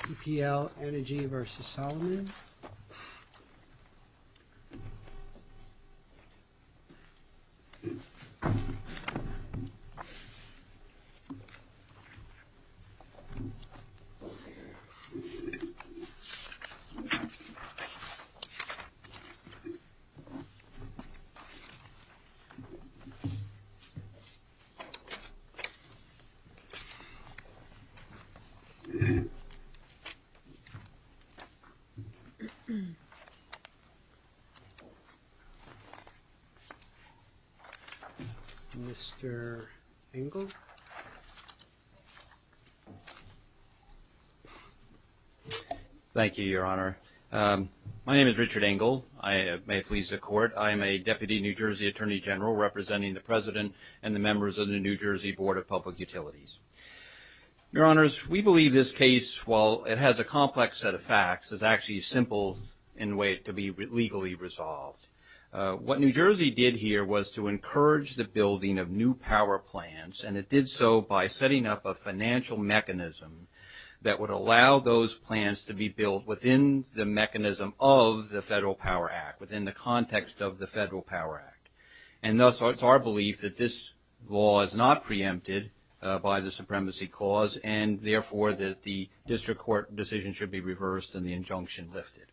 PPL EnergyPlus v. Solomon Mr. Engel. Thank you, Your Honor. My name is Richard Engel. I may please the Court. I am a Deputy New Jersey Attorney General representing the President and the members of the New Jersey Board of Public Utilities. Your Honors, we believe this case, while it has a complex set of facts, is actually simple in a way to be legally resolved. What New Jersey did here was to encourage the building of new power plants, and it did so by setting up a financial mechanism that would allow those plants to be built within the mechanism of the Federal Power Act, within the context of the Federal Power Act. And thus, it's our belief that this law is not preempted by the Supremacy Clause, and therefore, that the District Court decision should be reversed and the injunction lifted.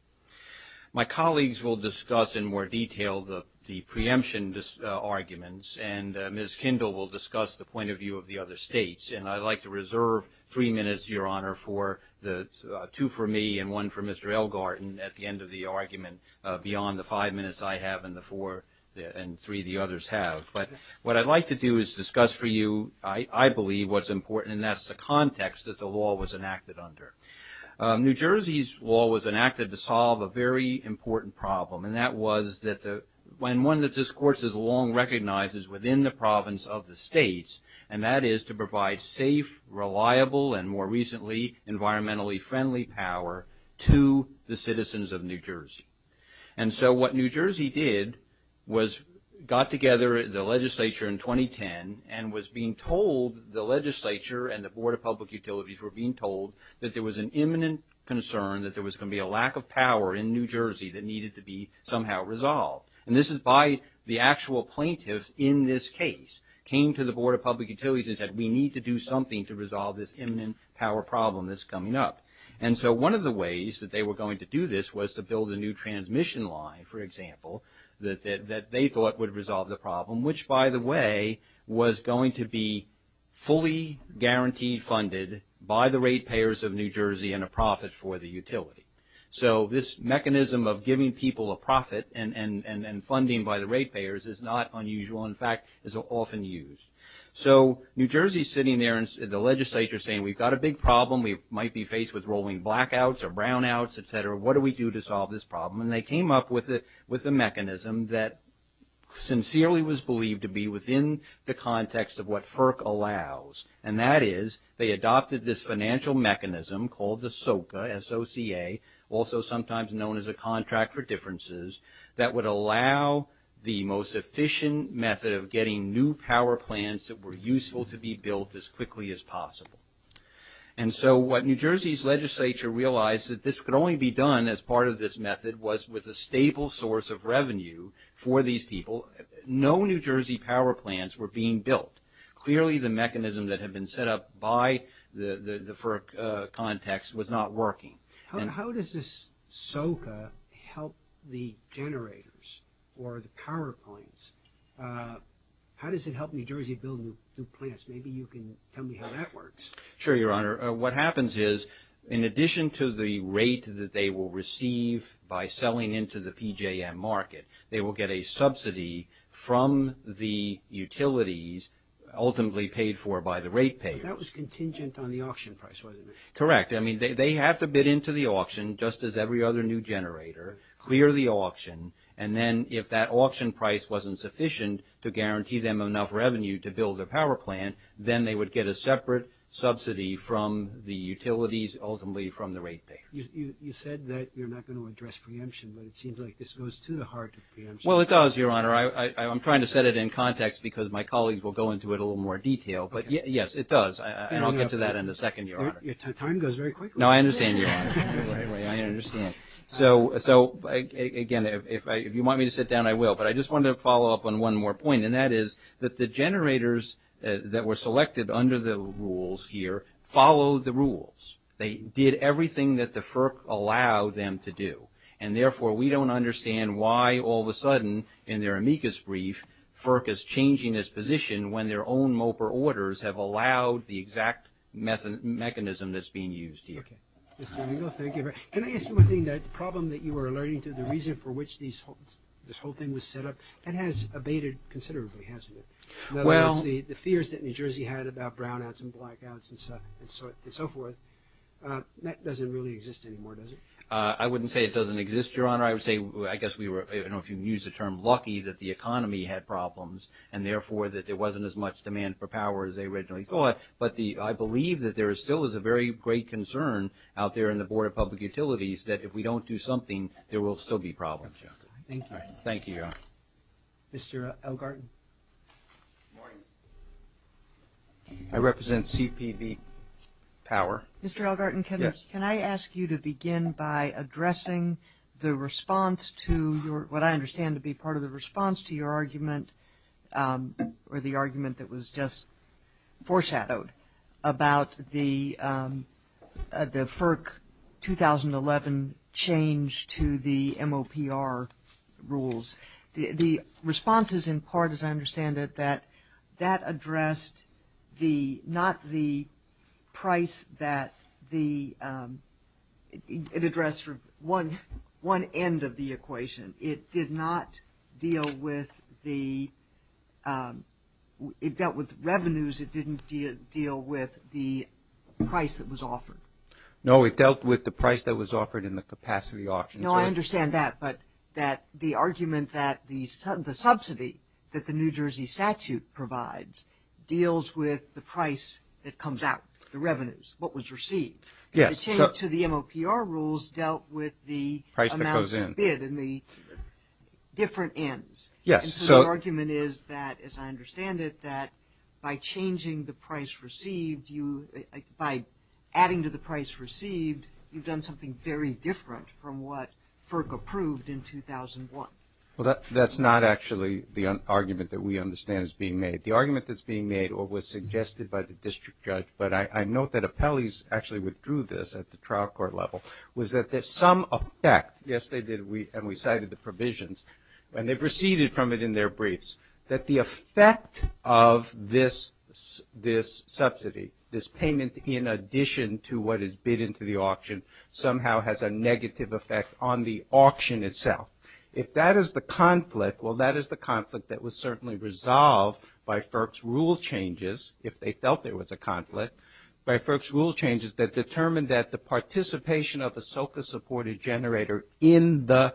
My colleagues will discuss in more detail the preemption arguments, and Ms. Kindle will discuss the point of view of the other states. And I'd like to reserve three minutes, Your Honor, for the two for me and one for Mr. Elgarten at the end of the argument, beyond the five minutes I have and the four and three the others have. But what I'd like to do is discuss for you, I believe, what's important, and that's the context that the law was enacted under. New Jersey's law was enacted to solve a very important problem, and that was that the – and one that this Court has long recognized is within the province of the states, and that is to provide safe, reliable, and more recently, environmentally friendly power to the citizens of New Jersey. And so what New Jersey did was got together the legislature in 2010 and was being told – the legislature and the Board of Public Utilities were being told that there was an imminent concern that there was going to be a lack of power in New Jersey that needed to be somehow resolved. And this is by the actual plaintiffs in this case came to the Board of Public Utilities and said, we need to do something to resolve this imminent power problem that's coming up. And so one of the ways that they were going to do this was to build a new transmission line, for example, that they thought would resolve the problem, which, by the way, was going to be fully guaranteed funded by the rate payers of New Jersey and a profit for the utility. So this mechanism of giving people a profit and funding by the rate payers is not unusual. In fact, it's often used. So New Jersey is sitting there and the legislature is saying, we've got a big problem. We might be faced with rolling blackouts or brownouts, et cetera. What do we do to solve this problem? And they came up with a mechanism that sincerely was believed to be within the context of what FERC allows, and that is they adopted this financial mechanism called the SOCA, S-O-C-A, also sometimes known as a Contract for Differences, that would allow the most efficient method of getting new power plants that were useful to be built as quickly as possible. And so what New Jersey's legislature realized that this could only be done as part of this method was with a stable source of revenue for these people. No New Jersey power plants were being built. Clearly, the mechanism that had been set up by the FERC context was not working. How does this SOCA help the generators or the power plants? How does it help New Jersey build new plants? Maybe you can tell me how that works. Sure, Your Honor. What happens is, in addition to the rate that they will receive by selling into the PJM market, they will get a subsidy from the utilities, ultimately paid for by the rate payers. That was contingent on the auction price, wasn't it? Correct. I mean, they have to bid into the auction, just as every other new generator, clear the auction, and then if that auction price wasn't sufficient to guarantee them enough revenue to build a power plant, then they would get a separate subsidy from the utilities, ultimately from the rate payers. You said that you're not going to address preemption, but it seems like this goes to the heart of preemption. Well, it does, Your Honor. I'm trying to set it in context because my colleagues will go into it a little more detail, but yes, it does. And I'll get to that in a second, Your Honor. Time goes very quickly. No, I understand, Your Honor. I understand. So again, if you want me to sit down, I will, but I just wanted to follow up on one more point, and that is that the generators that were selected under the rules here followed the rules. They did everything that the FERC allowed them to do. And therefore, we don't understand why, all of a sudden, in their amicus brief, FERC is changing its position when their own MOPR orders have allowed the exact mechanism that's being used here. Okay. Mr. Riegel, thank you very much. Can I ask you one thing? That problem that you were alerting to, the reason for which this whole thing was set up, that has abated considerably, hasn't it? Well In other words, the fears that New Jersey had about brownouts and blackouts and so forth, that doesn't really exist anymore, does it? I wouldn't say it doesn't exist, Your Honor. I would say, I guess we were, I don't know if you can use the term, lucky that the economy had problems, and therefore, that there wasn't as much demand for power as they originally thought. But I believe that there still is a very great concern out there in the Board of Public Utilities that if we don't do something, there will still be problems. Thank you, Your Honor. Thank you, Your Honor. Mr. Elgarten. Good morning. I represent CPV Power. Mr. Elgarten, can I ask you to begin by addressing the response to what I understand to be part or the response to your argument or the argument that was just foreshadowed about the FERC 2011 change to the MOPR rules? The response is in part, as I understand it, that that deal with the, it dealt with revenues. It didn't deal with the price that was offered. No, it dealt with the price that was offered and the capacity options. No, I understand that, but that the argument that the subsidy that the New Jersey statute provides deals with the price that comes out, the revenues, what was received. Yes. The change to the MOPR rules dealt with the amounts of bid and the different ends. Yes. So the argument is that, as I understand it, that by changing the price received, by adding to the price received, you've done something very different from what FERC approved in 2001. Well, that's not actually the argument that we understand is being made. The argument that's being made or was suggested by the district judge, but I note that appellees actually withdrew this at the trial court level, was that there's some effect, yes, they did, and we cited the provisions, and they've receded from it in their briefs, that the effect of this subsidy, this payment in addition to what is bid into the auction somehow has a negative effect on the auction itself. If that is the conflict, well, that is the conflict that was certainly resolved by FERC's rule changes, if they felt there was a conflict, by FERC's rule changes that determined that the participation of the SOCA-supported generator in the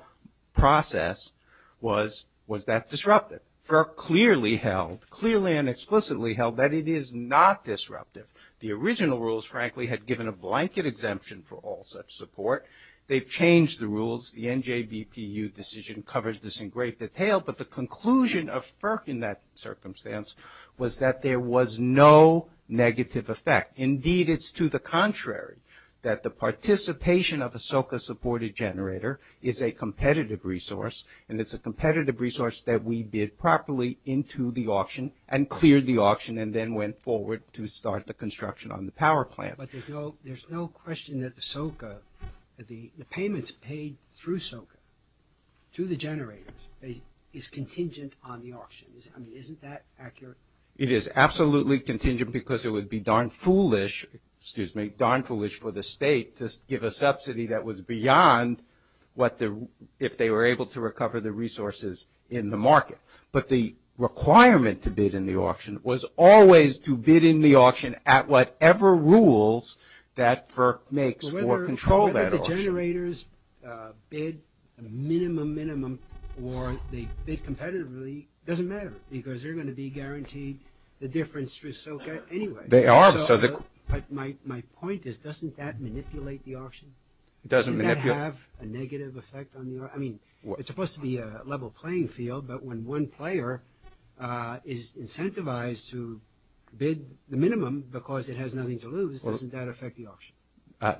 process was that disruptive. FERC clearly held, clearly and explicitly held that it is not disruptive. The original rules, frankly, had given a blanket exemption for all such support. They've changed the rules. The NJBPU decision covers this in great detail, but the conclusion of FERC in that circumstance was that there was no negative effect. Indeed, it's to the contrary, that the participation of a SOCA-supported generator is a competitive resource, and it's a competitive resource that we bid properly into the auction and cleared the auction and then went forward to start the construction on the power plant. But there's no question that the SOCA, the payments paid through SOCA to the generators is contingent on the auction. I mean, isn't that accurate? It is absolutely contingent because it would be darn foolish, excuse me, darn foolish for the state to give a subsidy that was beyond what the, if they were able to recover the resources in the market. But the requirement to bid in the auction was always to bid in the auction at whatever rules that FERC makes for control of that auction. So the generators bid a minimum, minimum, or they bid competitively, doesn't matter because they're going to be guaranteed the difference through SOCA anyway. They are, but so the... My point is, doesn't that manipulate the auction? It doesn't manipulate... Doesn't that have a negative effect on the auction? I mean, it's supposed to be a level playing field, but when one player is incentivized to bid the minimum because it has nothing to lose, doesn't that affect the auction?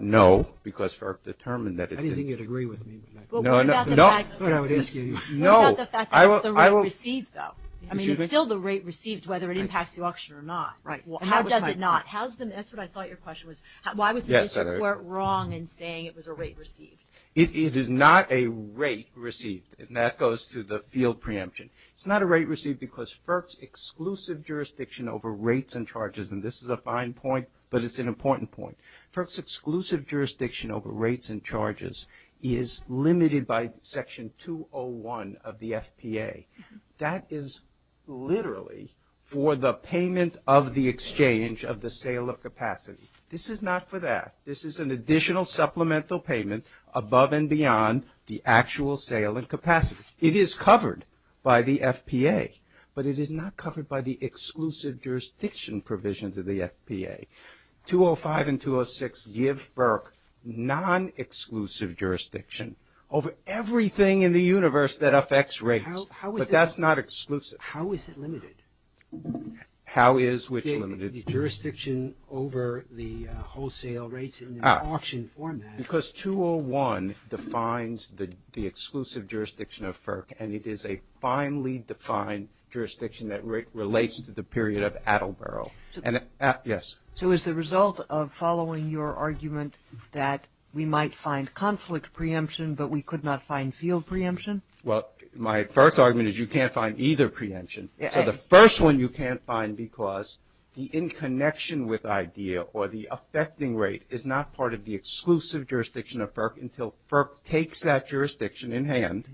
No, because FERC determined that it did. I didn't think you'd agree with me. No, no. What about the fact that it's the rate received though? I mean, it's still the rate received whether it impacts the auction or not. Right. How does it not? That's what I thought your question was. Why was the district wrong in saying it was a rate received? It is not a rate received, and that goes to the field preemption. It's not a rate received because FERC's exclusive jurisdiction over rates and charges, and this is a fine point, but it's an important point. FERC's exclusive jurisdiction over rates and charges is limited by Section 201 of the FPA. That is literally for the payment of the exchange of the sale of capacity. This is not for that. This is an additional supplemental payment above and beyond the actual sale and capacity. It is covered by the FPA, but it is not covered by the exclusive jurisdiction provisions of the FPA. 205 and 206 give FERC non-exclusive jurisdiction over everything in the universe that affects rates, but that's not exclusive. How is it limited? How is which limited? The jurisdiction over the wholesale rates in the auction format. Because 201 defines the exclusive jurisdiction of FERC, and it is a finely defined jurisdiction that relates to the period of Attleboro. So is the result of following your argument that we might find conflict preemption, but we could not find field preemption? Well, my first argument is you can't find either preemption. So the first one you can't find because the in connection with idea or the affecting rate is not part of the exclusive jurisdiction of FERC until FERC takes that jurisdiction in hand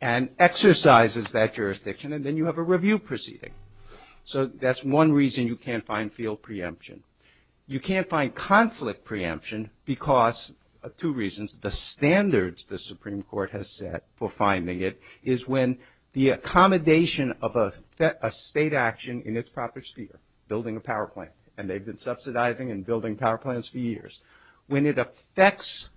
and exercises that jurisdiction, and then you have a review proceeding. So that's one reason you can't find field preemption. You can't find conflict preemption because of two reasons. The standards the Supreme Court has set for finding it is when the accommodation of a state action in its proper sphere, building a power plant, and they've been subsidizing and building power plants for years. When it affects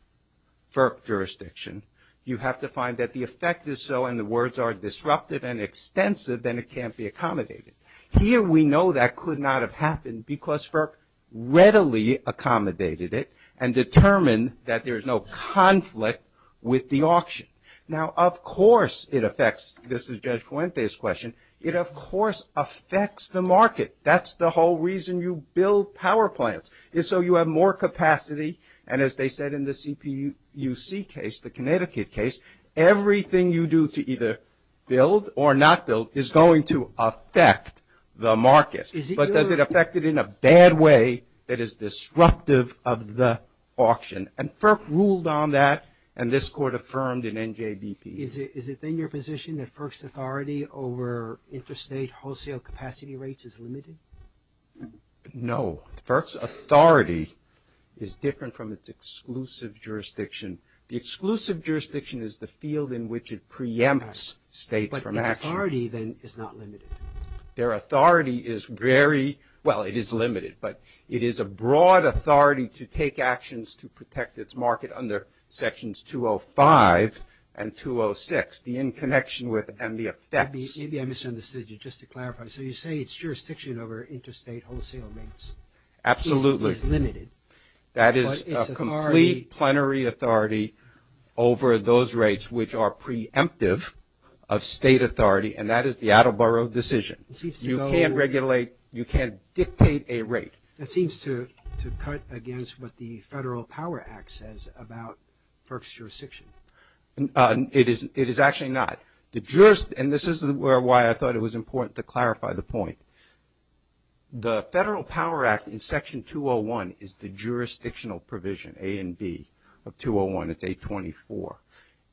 FERC jurisdiction, you have to find that the effect is so, and the words are disruptive and extensive, then it can't be accommodated. Here we know that could not have happened because FERC readily accommodated it and determined that there's no conflict with the auction. Now, of course, it affects, this is Judge Fuente's question, it of course affects the market. That's the whole reason you build power plants is so you have more capacity, and as they said in the CPUC case, the Connecticut case, everything you do to either build or not build is going to affect the market. But does it affect it in a bad way that is disruptive of the auction? And FERC ruled on that, and this Court affirmed in NJBP. Is it then your position that FERC's authority over interstate wholesale capacity rates is limited? No. FERC's authority is different from its exclusive jurisdiction. The exclusive jurisdiction is the field in which it preempts states from action. But its authority then is not limited. Their authority is very, well, it is limited, but it is a broad authority to take actions to protect its market under Sections 205 and 206, the in connection with and the effects. Maybe I misunderstood you. Just to clarify. So you say it's jurisdiction over interstate wholesale rates. Absolutely. It's limited. That is a complete plenary authority over those rates which are preemptive of state authority, and that is the Attleboro decision. You can't regulate, you can't dictate a rate. That seems to cut against what the Federal Power Act says about FERC's jurisdiction. It is actually not. And this is why I thought it was important to clarify the point. The Federal Power Act in Section 201 is the jurisdictional provision, A and B, of 201. It's 824.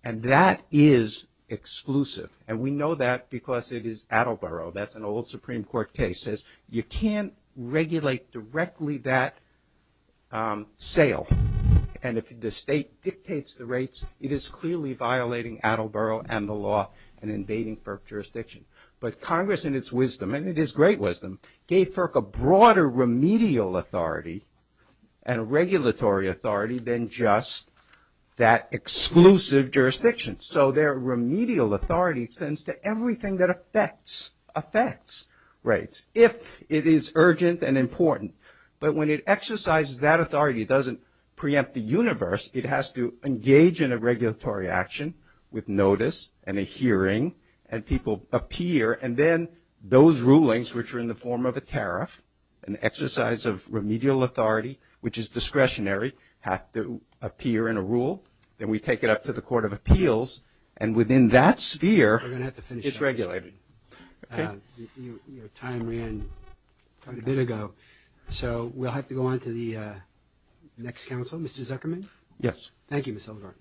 And that is exclusive. And we know that because it is Attleboro. That's an old Supreme Court case. You can't regulate directly that sale. And if the state dictates the rates, it's not it is clearly violating Attleboro and the law and invading FERC jurisdiction. But Congress in its wisdom, and it is great wisdom, gave FERC a broader remedial authority and regulatory authority than just that exclusive jurisdiction. So their remedial authority extends to everything that affects rates, if it is urgent and important. But when it exercises that authority, it doesn't preempt the universe. It has to engage in a regulatory action with notice and a hearing and people appear. And then those rulings, which are in the form of a tariff, an exercise of remedial authority, which is discretionary, have to appear in a rule. Then we take it up to the Court of Appeals. And within that sphere, it's regulated. Your time ran quite a bit ago. So we'll have to go on to the next counsel. Mr. Zuckerman? Yes. Thank you, Mr. Legarten.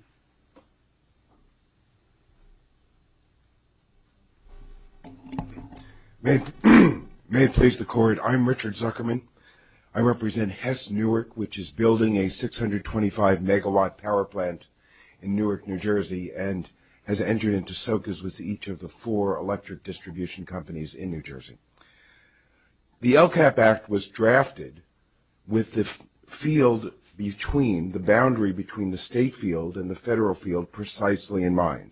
May it please the Court, I'm Richard Zuckerman. I represent Hess Newark, which is building a 625-megawatt power plant in Newark, New Jersey, and has entered into socas with each of the four electric distribution companies in New Jersey. The LCAP Act was drafted with the field between, the boundary between the state field and the federal field precisely in mind.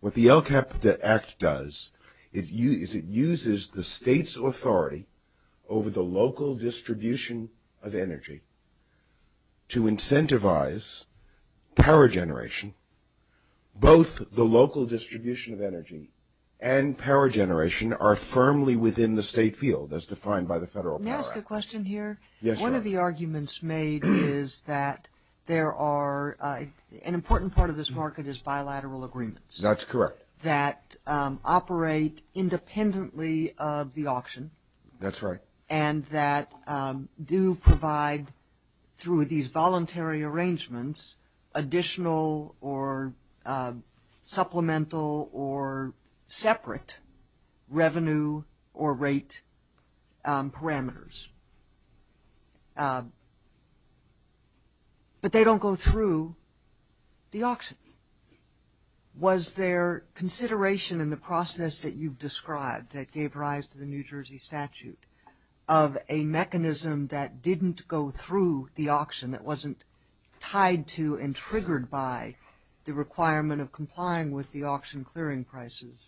What the LCAP Act does is it uses the state's authority over the local distribution of energy to incentivize power generation. Both the local distribution of energy and power generation are firmly within the state field as defined by the federal power act. May I ask a question here? Yes, sure. One of the arguments made is that there are, an important part of this market is bilateral agreements. That's correct. That operate independently of the auction. That's right. And that do provide, through these voluntary arrangements, additional or supplemental or separate revenue or rate parameters. But they don't go through the auction. Was there consideration in the process that you've described that gave rise to the New Jersey statute of a mechanism that didn't go through the auction, that wasn't tied to and triggered by the requirement of auction prices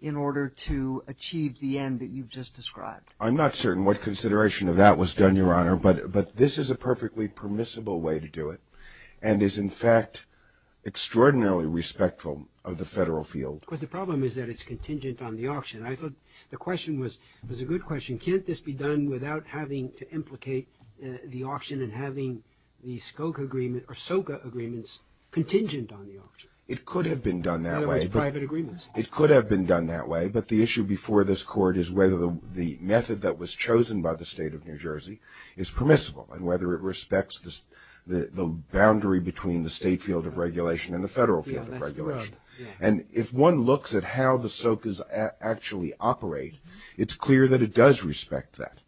in order to achieve the end that you've just described? I'm not certain what consideration of that was done, Your Honor, but this is a perfectly permissible way to do it and is, in fact, extraordinarily respectful of the federal field. Because the problem is that it's contingent on the auction. I thought the question was a good question. Can't this be done without having to implicate the auction and having the SCOCA agreement or SOCA agreements contingent on the auction? It could have been done that way. In other words, private agreements. It could have been done that way, but the issue before this Court is whether the method that was chosen by the state of New Jersey is permissible and whether it respects the boundary between the state field of regulation and the federal field of regulation. And if one looks at how the SOCAs actually operate, it's clear that it does respect that.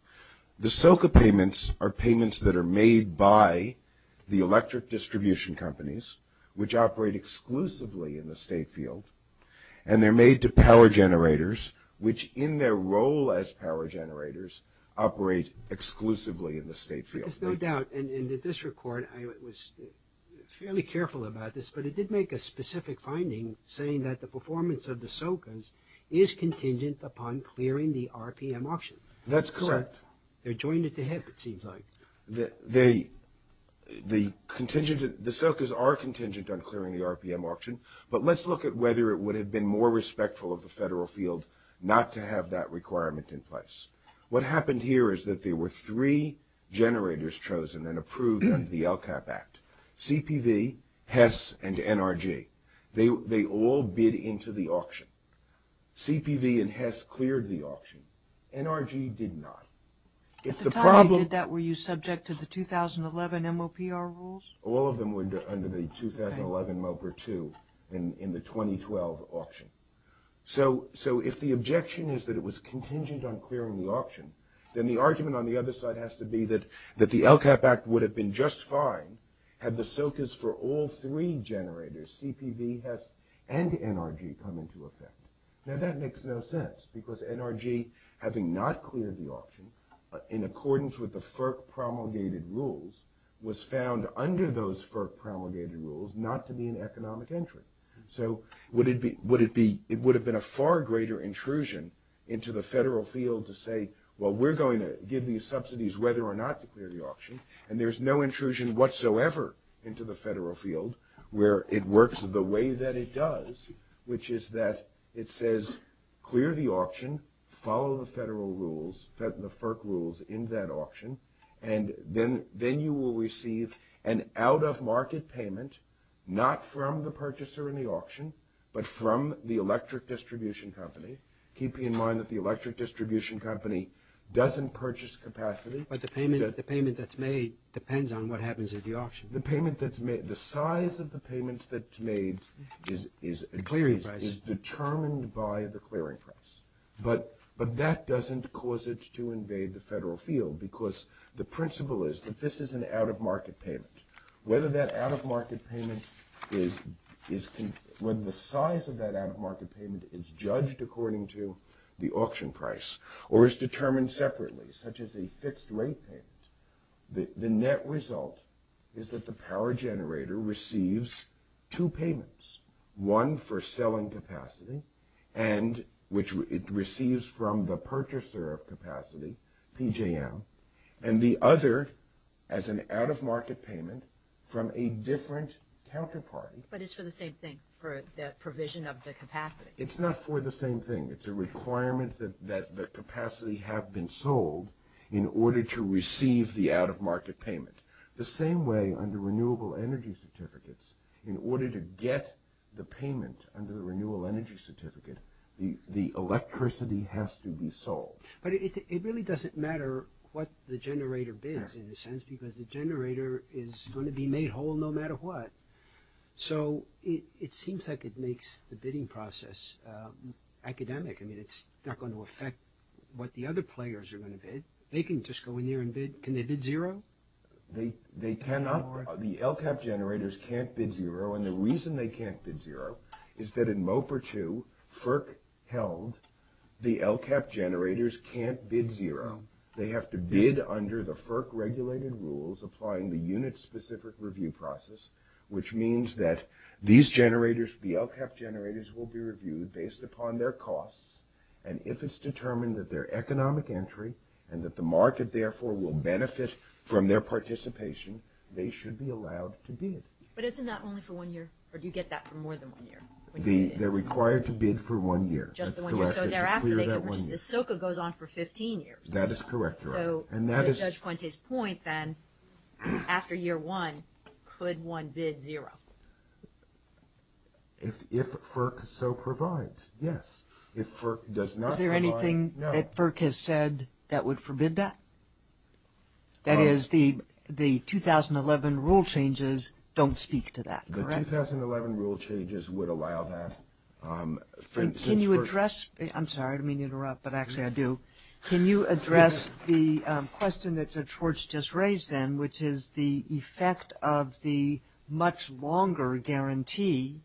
The SOCA payments are payments that are made by the electric distribution companies, which operate exclusively in the state field, and they're made to power generators, which, in their role as power generators, operate exclusively in the state field. Because no doubt, and at this record, I was fairly careful about this, but it did make a specific finding saying that the performance of the SOCAs is contingent upon clearing the RPM auction. That's correct. They're joined at the hip, it seems like. The SOCAs are contingent on clearing the RPM auction, but let's look at whether it would have been more respectful of the federal field not to have that requirement in place. What happened here is that there were three generators chosen and approved under the LCAP Act. CPV, HESS, and NRG. They all bid into the auction. CPV and HESS cleared the auction. NRG did not. At the time you did that, were you subject to the 2011 MOPR rules? All of them were under the 2011 MOPR 2 in the 2012 auction. So if the objection is that it was contingent on clearing the auction, then the argument on the other side has to be that the LCAP Act would have been just fine had the SOCAs for all three generators, CPV, HESS, and NRG, come into effect. Now that makes no sense, because NRG, having not cleared the auction, in accordance with the FERC promulgated rules, was found under those FERC promulgated rules not to be an economic entry. So it would have been a far greater intrusion into the federal field to say, well, we're going to give these subsidies whether or not to clear the auction. And there's no intrusion whatsoever into the federal field where it works the way that it does, which is that it says clear the auction, follow the federal rules, the FERC rules in that auction, and then you will receive an out-of-market payment, not from the purchaser in the auction, but from the electric distribution company, keeping in mind that the electric distribution company doesn't purchase capacity. But the payment that's made depends on what happens at the auction. The payment that's made, the size of the payment that's made is determined by the clearing price, but that doesn't cause it to invade the federal field, because the principle is that this is an out-of-market payment. Whether that out-of-market payment is – whether the size of that out-of-market payment is judged according to the auction price or is determined separately, such as a fixed rate out-of-market payment, the net result is that the power generator receives two payments, one for selling capacity and – which it receives from the purchaser of capacity, PJM, and the other as an out-of-market payment from a different counterparty. But it's for the same thing, for the provision of the capacity. It's not for the same thing. It's a requirement that the capacity have been sold in order to receive the out-of-market payment. The same way, under renewable energy certificates, in order to get the payment under the renewal energy certificate, the electricity has to be sold. But it really doesn't matter what the generator bids, in a sense, because the generator is going to be made whole no matter what. So it seems like it makes the bidding process academic. I mean, it's not going to affect what the other players are going to bid. They can just go in there and bid. Can they bid zero? They cannot. The LCAP generators can't bid zero, and the reason they can't bid zero is that in MOPR 2, FERC held the LCAP generators can't bid zero. They have to bid under the FERC-regulated rules applying the unit-specific review process, which means that these generators, the LCAP generators, will be reviewed based upon their costs, and if it's determined that they're economic entry and that the market, therefore, will benefit from their participation, they should be allowed to bid. But isn't that only for one year, or do you get that for more than one year? They're required to bid for one year. Just one year. So thereafter, the SOCA goes on for 15 years. That is correct. So to Judge Fuente's point, then, after year one, could one bid zero? If FERC so provides, yes. If FERC does not provide, no. Is there anything that FERC has said that would forbid that? That is, the 2011 rule changes don't speak to that, correct? The 2011 rule changes would allow that. Can you address – I'm sorry to interrupt, but actually I do. Can you address the question that Judge Schwartz just raised, then, which is the effect of the much longer guarantee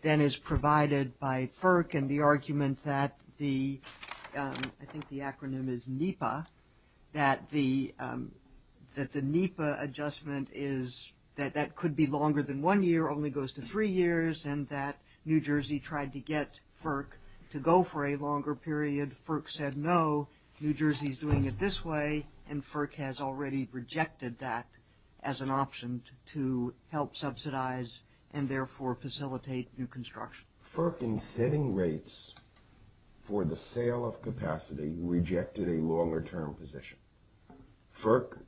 than is provided by FERC and the argument that the – I think the acronym is NEPA – that the NEPA adjustment is – that that could be longer than one year, only goes to three years, and that New Jersey tried to get FERC to go for a longer period. FERC said no. New Jersey is doing it this way, and FERC has already rejected that as an option to help subsidize and therefore facilitate new construction. FERC, in setting rates for the sale of capacity, rejected a longer-term position. FERC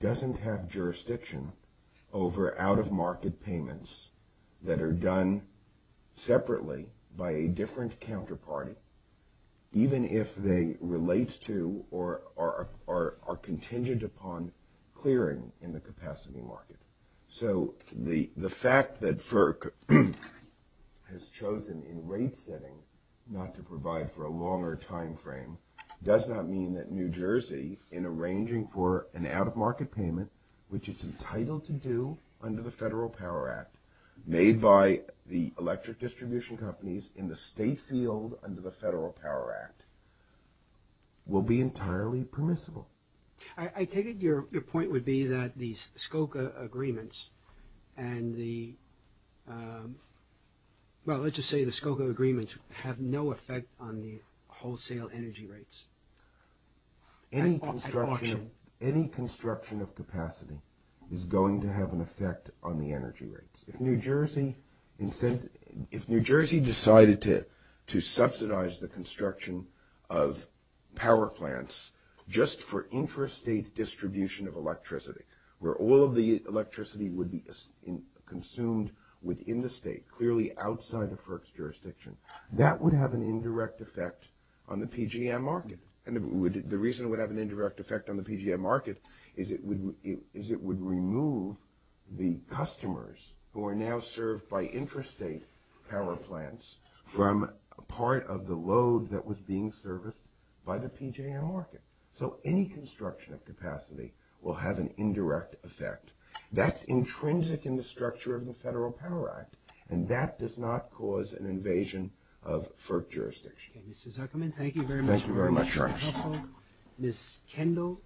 doesn't have jurisdiction over out-of-market payments that are done separately by a different counterparty, even if they relate to or are contingent upon clearing in the capacity market. So the fact that FERC has chosen in rate-setting not to provide for a longer timeframe does not mean that New Jersey, in arranging for an out-of-market payment, which it's entitled to do under the Federal Power Act, made by the electric distribution companies in the state field under the Federal Power Act, will be entirely permissible. I take it your point would be that the SCOCA agreements and the – well, let's just say the SCOCA agreements have no effect on the wholesale energy rates. Any construction – any construction of capacity is going to have an effect on the energy rates. If New Jersey – if New Jersey decided to subsidize the construction of power plants just for intrastate distribution of electricity, where all of the electricity would be consumed within the state, clearly outside of FERC's jurisdiction, that would have an indirect effect on the PGM market. And the reason it would have an indirect effect on the PGM market is it would remove the customers who are now served by intrastate power plants from part of the load that was being serviced by the PGM market. So any construction of capacity will have an indirect effect. That's intrinsic in the structure of the Federal Power Act, and that does not cause an invasion of FERC jurisdiction. MR TONER. Okay, Mr. Zuckerman, thank you very much. MR ZUCKERMAN. Thank you very much. MR TONER. MS KENDALL.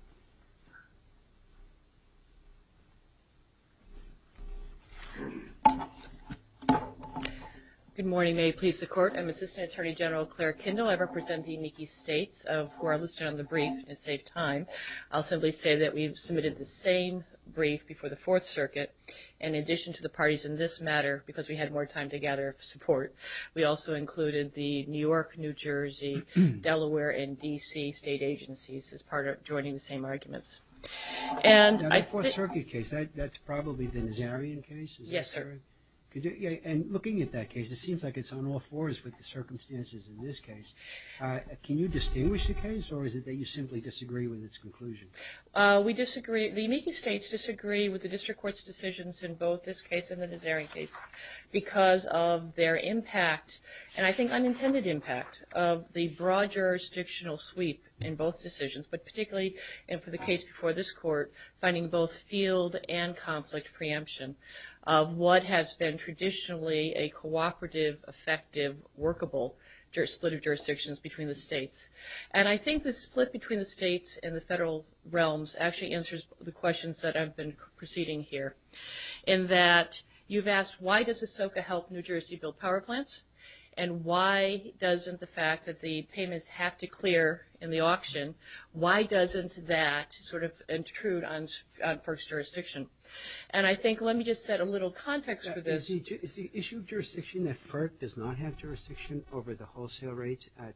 Good morning. May it please the Court. I'm Assistant Attorney General Claire Kendall. I represent the Unique States of – who are listed on the brief in a safe time. I'll simply say that we've submitted the same brief before the Fourth Circuit. In addition to the parties in this matter, because we had more time to gather support, we also included the New York, New Jersey, Delaware, and D.C. state agencies as part of joining the same arguments. MR TONER. Now, the Fourth Circuit case, that's probably the Nazarian case, is that correct? MS KENDALL. Yes, sir. MR TONER. And looking at that case, it seems like it's on all fours with the circumstances in this Can you distinguish the case, or is it that you simply disagree with its conclusion? MS KENDALL. We disagree – the Unique States disagree with the district court's decisions in both this case and the Nazarian case because of their impact, and I think unintended impact, of the broad jurisdictional sweep in both decisions, but particularly for the case before this Court, finding both field and conflict preemption of what has been traditionally a cooperative, effective, workable split of jurisdictions between the states. And I think the split between the states and the federal realms actually answers the questions that I've been proceeding here in that you've asked, why does ASOCA help New Jersey build power plants, and why doesn't the fact that the payments have to clear in the auction, why doesn't that sort of intrude on FERC's jurisdiction? And I think – let me just set a little context for this. MR TONER. Is the issue of jurisdiction that FERC does not have jurisdiction over the wholesale rates at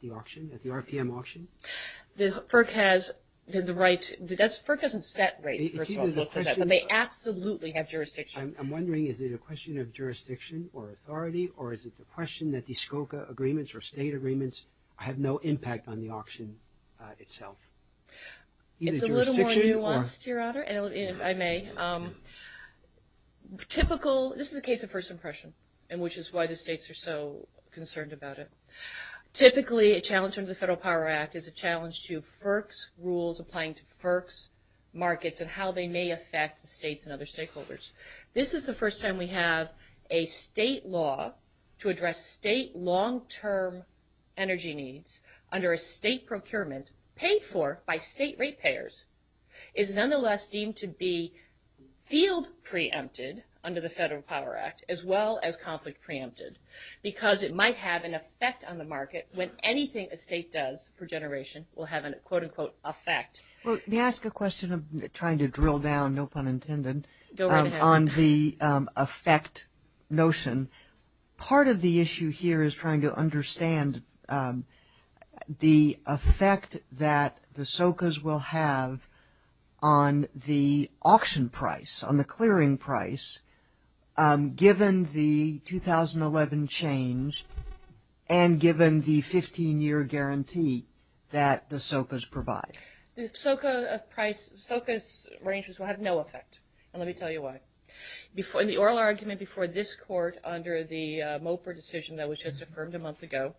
the auction, at the RPM auction? MS KENDALL. FERC has the right – FERC doesn't set rates, first of all, for that, but they absolutely MR TONER. I'm wondering, is it a question of jurisdiction or authority, or is it the question that the ASOCA agreements or state agreements have no impact on the auction itself? Either jurisdiction or – MS KENDALL. It's a little more nuanced, Your Honor, if I may. Typical – this is a case of first impression, and which is why the states are so concerned about it. Typically, a challenge under the Federal Power Act is a challenge to FERC's rules applying to FERC's markets and how they may affect the states and other stakeholders. This is the first time we have a state law to address state long-term energy needs under a state procurement paid for by state ratepayers is nonetheless deemed to be field preempted under the Federal Power Act as well as conflict preempted because it might have an effect on the market when anything a state does for a generation will have a, quote-unquote, MS KENDALL. Well, may I ask a question? I'm trying to drill down, no pun intended – MS KENDALL. Go right ahead. MS KENDALL. – on the effect notion. Part of the issue here is trying to understand the effect that the SOCAs will have on the market, given the 15-year guarantee that the SOCAs provide. MS KENDALL. The SOCA price – SOCA's arrangements will have no effect, and let me tell you why. In the oral argument before this court under the MOPR decision that was just affirmed a month ago,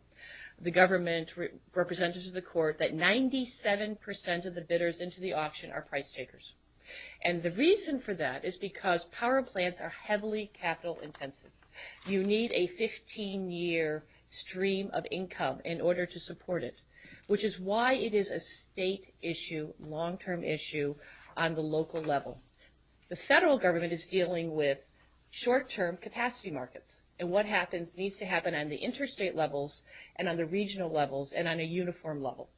the government represented to the court that 97 percent of the bidders into the auction are price takers. And the reason for that is because power plants are heavily capital-intensive. You need a 15-year stream of income in order to support it, which is why it is a state issue, long-term issue on the local level. The federal government is dealing with short-term capacity markets, and what happens needs to happen on the interstate levels and on the regional levels and on a uniform level,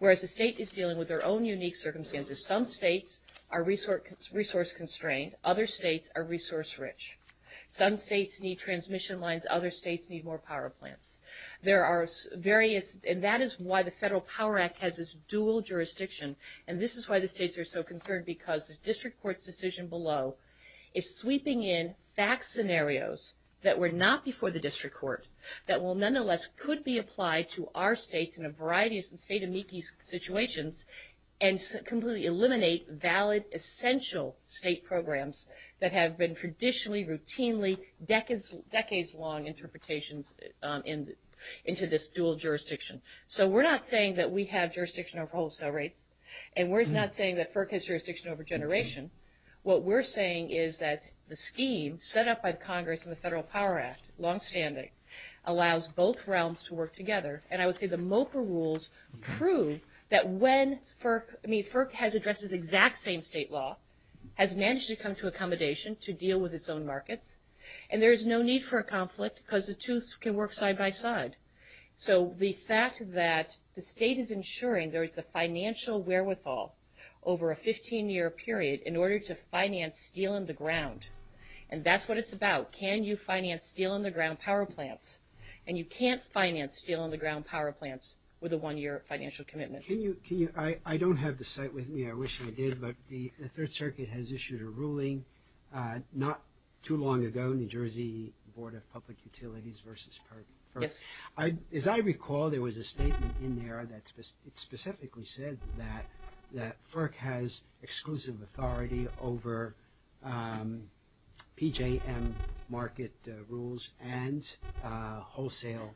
whereas the state is dealing with their own unique circumstances. Some states are resource-constrained. Other states are resource-rich. Some states need transmission lines. Other states need more power plants. There are various – and that is why the Federal Power Act has this dual jurisdiction, and this is why the states are so concerned, because the district court's decision below is sweeping in fact scenarios that were not before the district court that will nonetheless could be applied to our states in a variety of state amici situations and completely eliminate valid, essential state programs that have been traditionally, routinely, decades-long interpretations into this dual jurisdiction. So we're not saying that we have jurisdiction over wholesale rates, and we're not saying that FERC has jurisdiction over generation. What we're saying is that the scheme set up by the Congress and the Federal Power Act, longstanding, allows both realms to work together. And I would say the MOPA rules prove that when FERC – I mean, FERC has addressed this exact same state law, has managed to come to accommodation to deal with its own markets, and there is no need for a conflict because the two can work side by side. So the fact that the state is ensuring there is a financial wherewithal over a 15-year period in order to finance steel in the ground, and that's what it's about. Can you finance steel in the ground power plants? And you can't finance steel in the ground power plants with a one-year financial commitment. Can you – I don't have the cite with me. I wish I did, but the Third Circuit has issued a ruling not too long ago, New Jersey Board of Public Utilities versus FERC. Yes. As I recall, there was a statement in there that specifically said that FERC has wholesale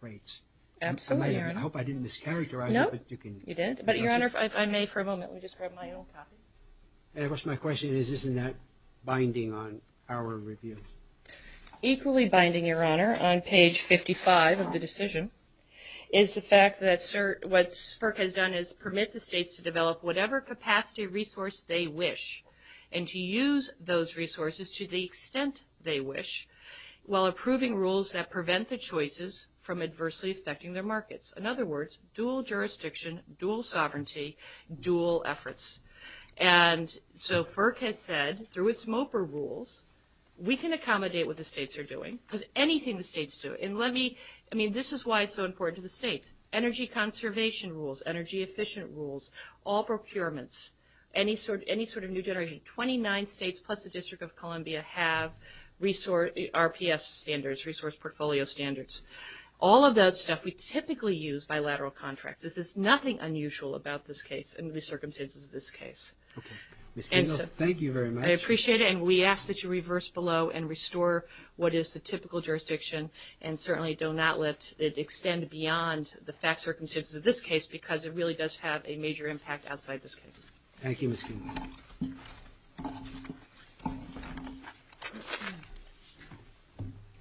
rates. Absolutely, Your Honor. I hope I didn't mischaracterize it. No, you didn't. But, Your Honor, if I may for a moment, let me just grab my own copy. And of course, my question is, isn't that binding on our review? Equally binding, Your Honor, on page 55 of the decision is the fact that what FERC has done is permit the states to develop whatever capacity resource they wish and to use those resources to the extent they wish while approving rules that prevent the choices from adversely affecting their markets. In other words, dual jurisdiction, dual sovereignty, dual efforts. And so FERC has said through its MOPR rules we can accommodate what the states are doing because anything the states do. And let me – I mean, this is why it's so important to the states. Energy conservation rules, energy efficient rules, all procurements, any sort of new generation, 29 states plus the District of Columbia have RPS standards, resource portfolio standards. All of that stuff we typically use bilateral contracts. This is nothing unusual about this case and the circumstances of this case. Okay. Ms. Kinnell, thank you very much. I appreciate it. And we ask that you reverse below and restore what is the typical jurisdiction and certainly do not let it extend beyond the fact circumstances of this case because it really does have a major impact outside this case. Thank you, Ms. Kinnell.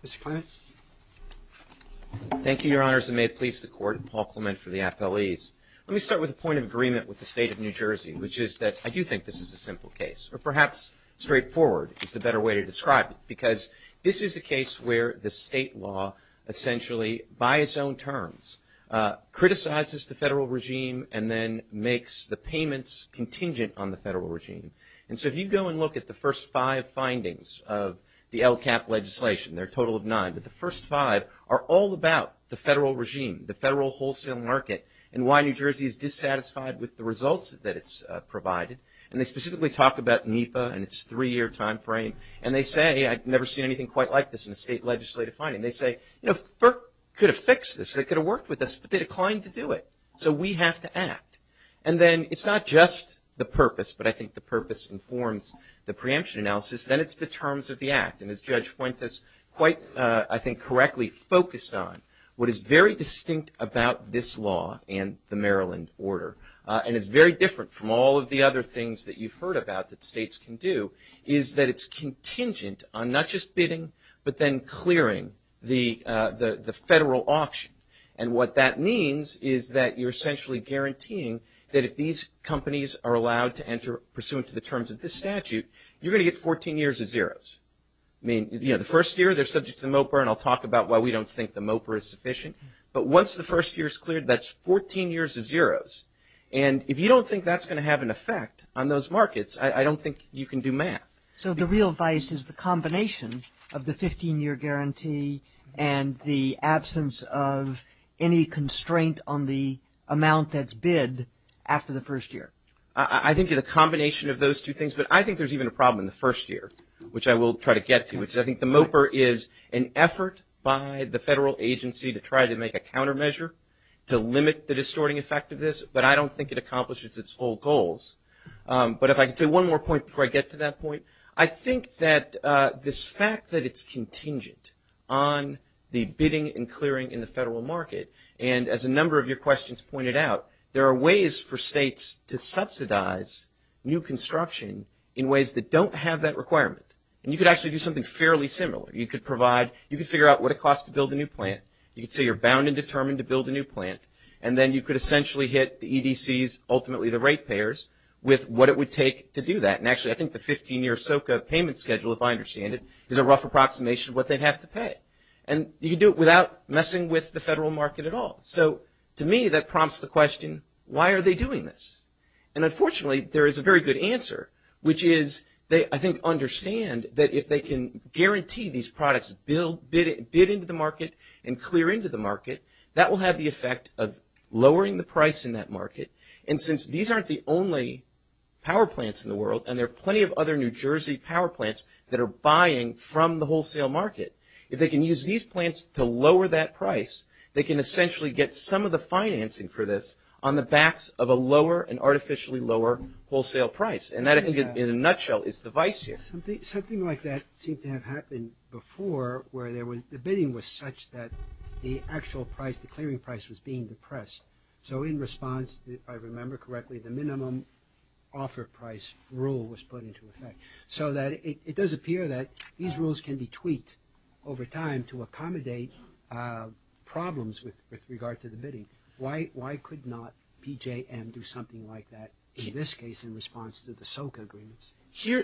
Mr. Clement. Thank you, Your Honors, and may it please the Court, Paul Clement for the appellees. Let me start with a point of agreement with the state of New Jersey, which is that I do think this is a simple case, or perhaps straightforward is the better way to describe it because this is a case where the state law essentially, by its own terms, criticizes the federal regime and then makes the payments contingent on the federal regime. And so if you go and look at the first five findings of the LCAP legislation, there are a total of nine, but the first five are all about the federal regime, the federal wholesale market, and why New Jersey is dissatisfied with the results that it's provided. And they specifically talk about NEPA and its three-year timeframe. And they say, I've never seen anything quite like this in a state legislative finding. They say, you know, FERC could have fixed this. They could have worked with us, but they declined to do it. So we have to act. And then it's not just the purpose, but I think the purpose informs the preemption analysis. Then it's the terms of the act. And as Judge Fuentes quite, I think, correctly focused on, what is very distinct about this law and the Maryland order, and it's very different from all of the other things that you've heard about that states can do, is that it's contingent on not just bidding, but then clearing the federal auction. And what that means is that you're essentially guaranteeing that if these companies are allowed to enter, pursuant to the terms of this statute, you're going to get 14 years of zeros. I mean, you know, the first year, they're subject to the MOPR, and I'll talk about why we don't think the MOPR is sufficient. But once the first year is cleared, that's 14 years of zeros. And if you don't think that's going to have an effect on those markets, I don't think you can do math. So the real vice is the combination of the 15-year guarantee and the absence of any constraint on the amount that's bid after the first year? I think it's a combination of those two things. But I think there's even a problem in the first year, which I will try to get to, which I think the MOPR is an effort by the federal agency to try to make a countermeasure to limit the distorting effect of this, but I don't think it accomplishes its full goals. But if I could say one more point before I get to that point, I think that this fact that it's contingent on the bidding and clearing in the federal market, and as a number of your questions pointed out, there are ways for states to subsidize new construction in ways that don't have that requirement. And you could actually do something fairly similar. You could provide, you could figure out what it costs to build a new plant. You could say you're bound and determined to build a new plant, and then you could essentially hit the EDCs, ultimately the rate payers, with what it would take to do that. And actually, I think the 15-year SOCA payment schedule, if I understand it, is a rough approximation of what they have to pay. And you can do it without messing with the federal market at all. So to me, that prompts the question, why are they doing this? And unfortunately, there is a very good answer, which is they, I think, understand that if they can guarantee these products bid into the market and clear into the market, that will have the effect of lowering the price in that market. And since these aren't the only power plants in the world, and there are plenty of other New Jersey power plants that are buying from the wholesale market, if they can use these plants to lower that price, they can essentially get some of the financing for this on the backs of a lower, an artificially lower wholesale price. And that, I think, in a nutshell, is the vice here. Something like that seemed to have happened before, where the bidding was such that the actual price, the clearing price, was being depressed. So in response, if I remember correctly, the minimum offer price rule was put into effect. So it does appear that these rules can be tweaked over time to accommodate problems with regard to the bidding. Why could not PJM do something like that in this case in response to the SOCA agreements?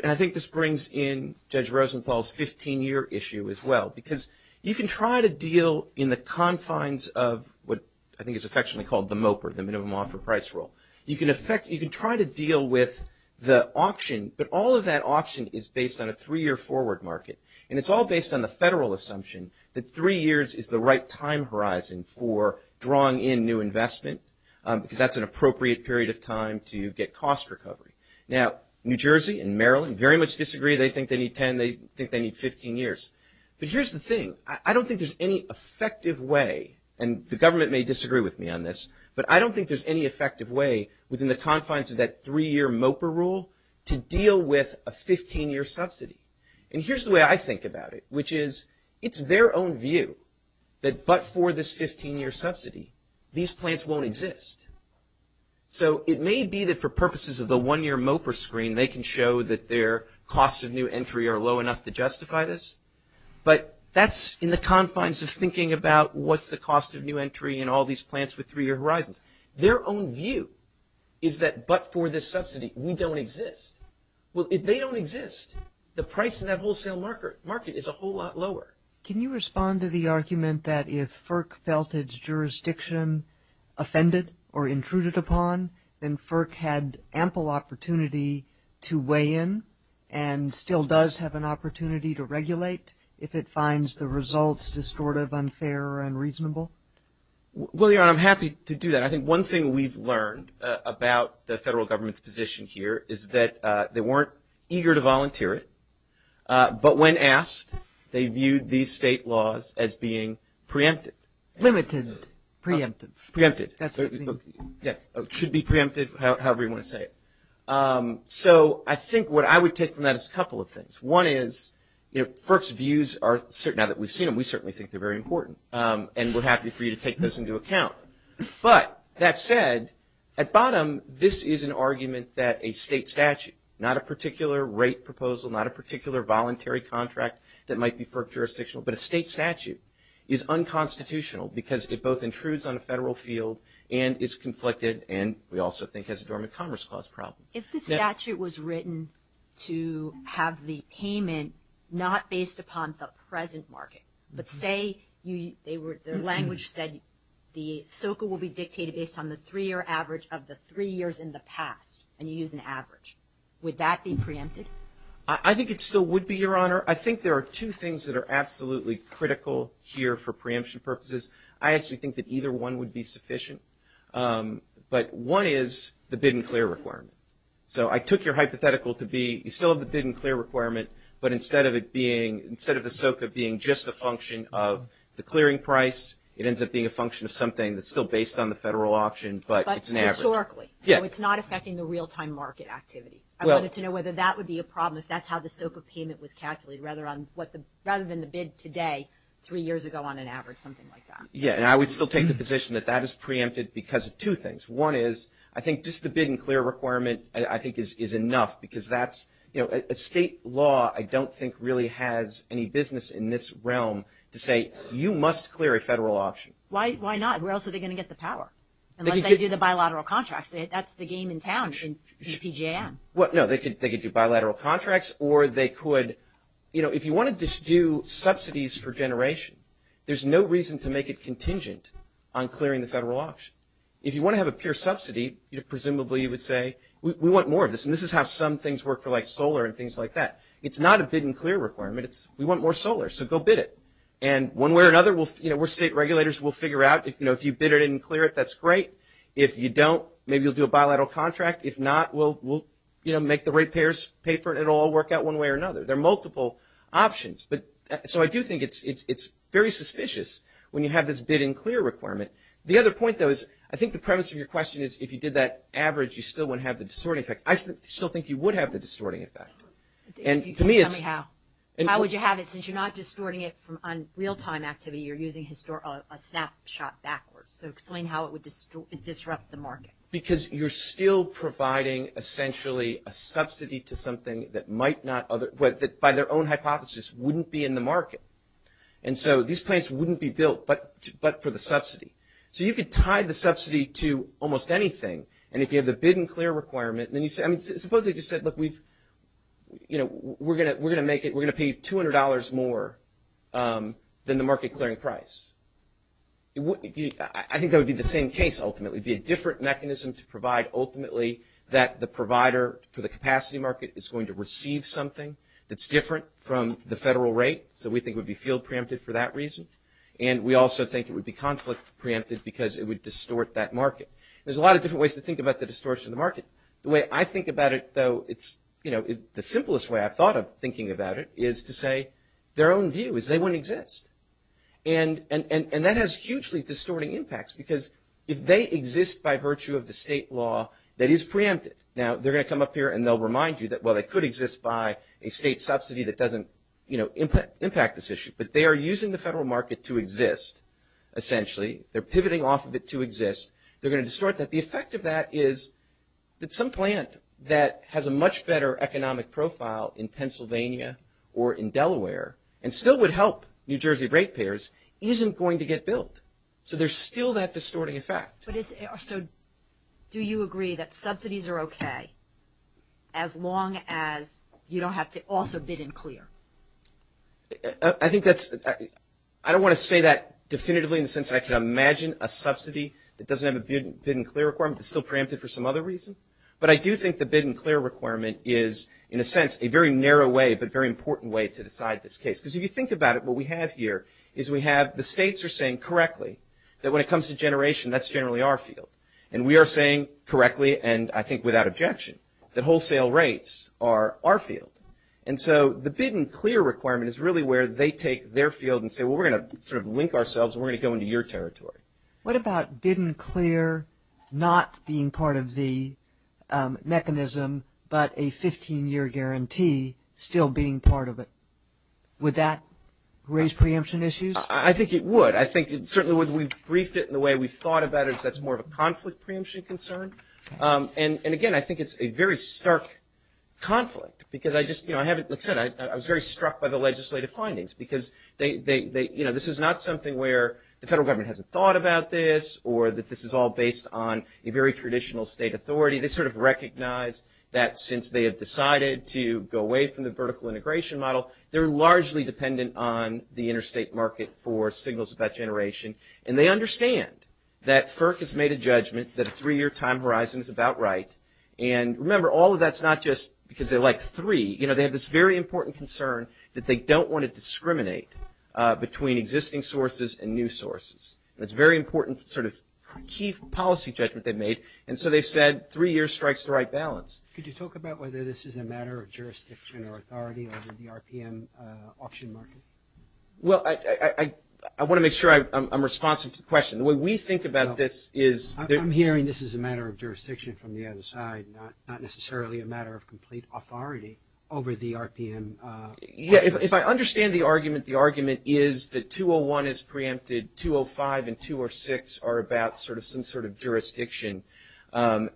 I think this brings in Judge Rosenthal's 15-year issue as well, because you can try to deal in the confines of what I think is affectionately called the MOPR, the minimum offer price rule. You can try to deal with the auction, but all of that auction is based on a three-year forward market. And it's all based on the federal assumption that three years is the right time horizon for drawing in new investment, because that's an appropriate period of time to get cost recovery. Now, New Jersey and Maryland very much disagree. They think they need 10. They think they need 15 years. But here's the thing. I don't think there's any effective way, and the government may disagree with me on this, but I don't think there's any effective way within the confines of that three-year MOPR rule to deal with a 15-year subsidy. And here's the way I think about it, which is it's their own view that but for this 15-year subsidy, these plants won't exist. So it may be that for purposes of the one-year MOPR screen, they can show that their costs of new entry are low enough to justify this, but that's in the confines of thinking about what's the cost of new entry and all these plants with three-year horizons. Their own view is that but for this subsidy, we don't exist. Well, if they don't exist, the price in that wholesale market is a whole lot lower. Can you respond to the argument that if FERC felt its jurisdiction offended or intruded upon, then FERC had ample opportunity to weigh in and still does have an opportunity to regulate if it finds the results distortive, unfair, or unreasonable? Well, Your Honor, I'm happy to do that. I think one thing we've learned about the federal government's position here is that they weren't eager to volunteer it, but when asked, they viewed these state laws as being preempted. Limited. Preempted. Preempted. That's what they mean. Yeah. It should be preempted, however you want to say it. So I think what I would take from that is a couple of things. One is, you know, FERC's views are certain. Now that we've seen them, we certainly think they're very important, and we're happy for you to take those into account. But that said, at bottom, this is an argument that a state statute, not a particular rate proposal, not a particular voluntary contract that might be FERC jurisdictional, but a state statute is unconstitutional because it both intrudes on a federal field and is conflicted and we also think has a dormant commerce clause problem. If the statute was written to have the payment not based upon the present market, but say the language said the SOCA will be dictated based on the three-year average of the three years in the past and you use an average, would that be preempted? I think it still would be, Your Honor. I think there are two things that are absolutely critical here for preemption purposes. I actually think that either one would be sufficient. But one is the bid and clear requirement. So I took your hypothetical to be you still have the bid and clear requirement, but instead of the SOCA being just a function of the clearing price, it ends up being a function of something that's still based on the federal auction, but it's an average. But historically, so it's not affecting the real-time market activity. I wanted to know whether that would be a problem, if that's how the SOCA payment was calculated, rather than the bid today three years ago on an average, something like that. Yeah, and I would still take the position that that is preempted because of two things. One is I think just the bid and clear requirement I think is enough because that's, you know, a state law I don't think really has any business in this realm to say you must clear a federal auction. Why not? Where else are they going to get the power unless they do the bilateral contracts? That's the game in town in the PJM. Well, no, they could do bilateral contracts or they could, you know, if you want to just do subsidies for generation, there's no reason to make it contingent on clearing the federal auction. If you want to have a pure subsidy, you know, presumably you would say we want more of this, and this is how some things work for like solar and things like that. It's not a bid and clear requirement. It's we want more solar, so go bid it. And one way or another, you know, we're state regulators. We'll figure out, you know, if you bid it and clear it, that's great. If you don't, maybe you'll do a bilateral contract. If not, we'll, you know, make the rate payers pay for it. It will all work out one way or another. There are multiple options. So I do think it's very suspicious when you have this bid and clear requirement. The other point, though, is I think the premise of your question is if you did that average, you still wouldn't have the distorting effect. I still think you would have the distorting effect. And to me it's. How would you have it since you're not distorting it on real-time activity? You're using a snapshot backwards. So explain how it would disrupt the market. Because you're still providing essentially a subsidy to something that might not, that by their own hypothesis wouldn't be in the market. And so these plants wouldn't be built but for the subsidy. So you could tie the subsidy to almost anything. And if you have the bid and clear requirement, then you say, I mean, suppose they just said, look, we've, you know, we're going to make it, we're going to pay $200 more than the market clearing price. I think that would be the same case ultimately. It would be a different mechanism to provide ultimately that the provider for the capacity market is going to receive something that's different from the federal rate. So we think it would be field preempted for that reason. And we also think it would be conflict preempted because it would distort that market. There's a lot of different ways to think about the distortion of the market. The way I think about it, though, it's, you know, the simplest way I've thought of thinking about it is to say their own view is they wouldn't exist. And that has hugely distorting impacts because if they exist by virtue of the state law that is preempted, now they're going to come up here and they'll remind you that, well, they could exist by a state subsidy that doesn't, you know, impact this issue. But they are using the federal market to exist essentially. They're pivoting off of it to exist. They're going to distort that. The effect of that is that some plant that has a much better economic profile in Pennsylvania or in Delaware and still would help New Jersey rate payers isn't going to get built. So there's still that distorting effect. So do you agree that subsidies are okay as long as you don't have to also bid and clear? I think that's – I don't want to say that definitively in the sense that I can imagine a subsidy that doesn't have a bid and clear requirement that's still preempted for some other reason. But I do think the bid and clear requirement is, in a sense, a very narrow way but very important way to decide this case. Because if you think about it, what we have here is we have – the states are saying correctly that when it comes to generation, that's generally our field. And we are saying correctly and I think without objection that wholesale rates are our field. And so the bid and clear requirement is really where they take their field and say, well, we're going to sort of link ourselves and we're going to go into your territory. What about bid and clear not being part of the mechanism but a 15-year guarantee still being part of it? Would that raise preemption issues? I think it would. I think it certainly would. We've briefed it in the way we've thought about it because that's more of a conflict preemption concern. And, again, I think it's a very stark conflict because I just – you know, I haven't – like I said, I was very struck by the legislative findings because they – you know, this is not something where the federal government hasn't thought about this or that this is all based on a very traditional state authority. They sort of recognize that since they have decided to go away from the vertical integration model, they're largely dependent on the interstate market for signals of that generation. And they understand that FERC has made a judgment that a three-year time horizon is about right. And, remember, all of that's not just because they like three. You know, they have this very important concern that they don't want to discriminate between existing sources and new sources. That's a very important sort of key policy judgment they've made. And so they've said three years strikes the right balance. Could you talk about whether this is a matter of jurisdiction or authority over the RPM auction market? Well, I want to make sure I'm responsive to the question. The way we think about this is – I'm hearing this is a matter of jurisdiction from the other side, not necessarily a matter of complete authority over the RPM. Yeah, if I understand the argument, the argument is that 201 is preempted,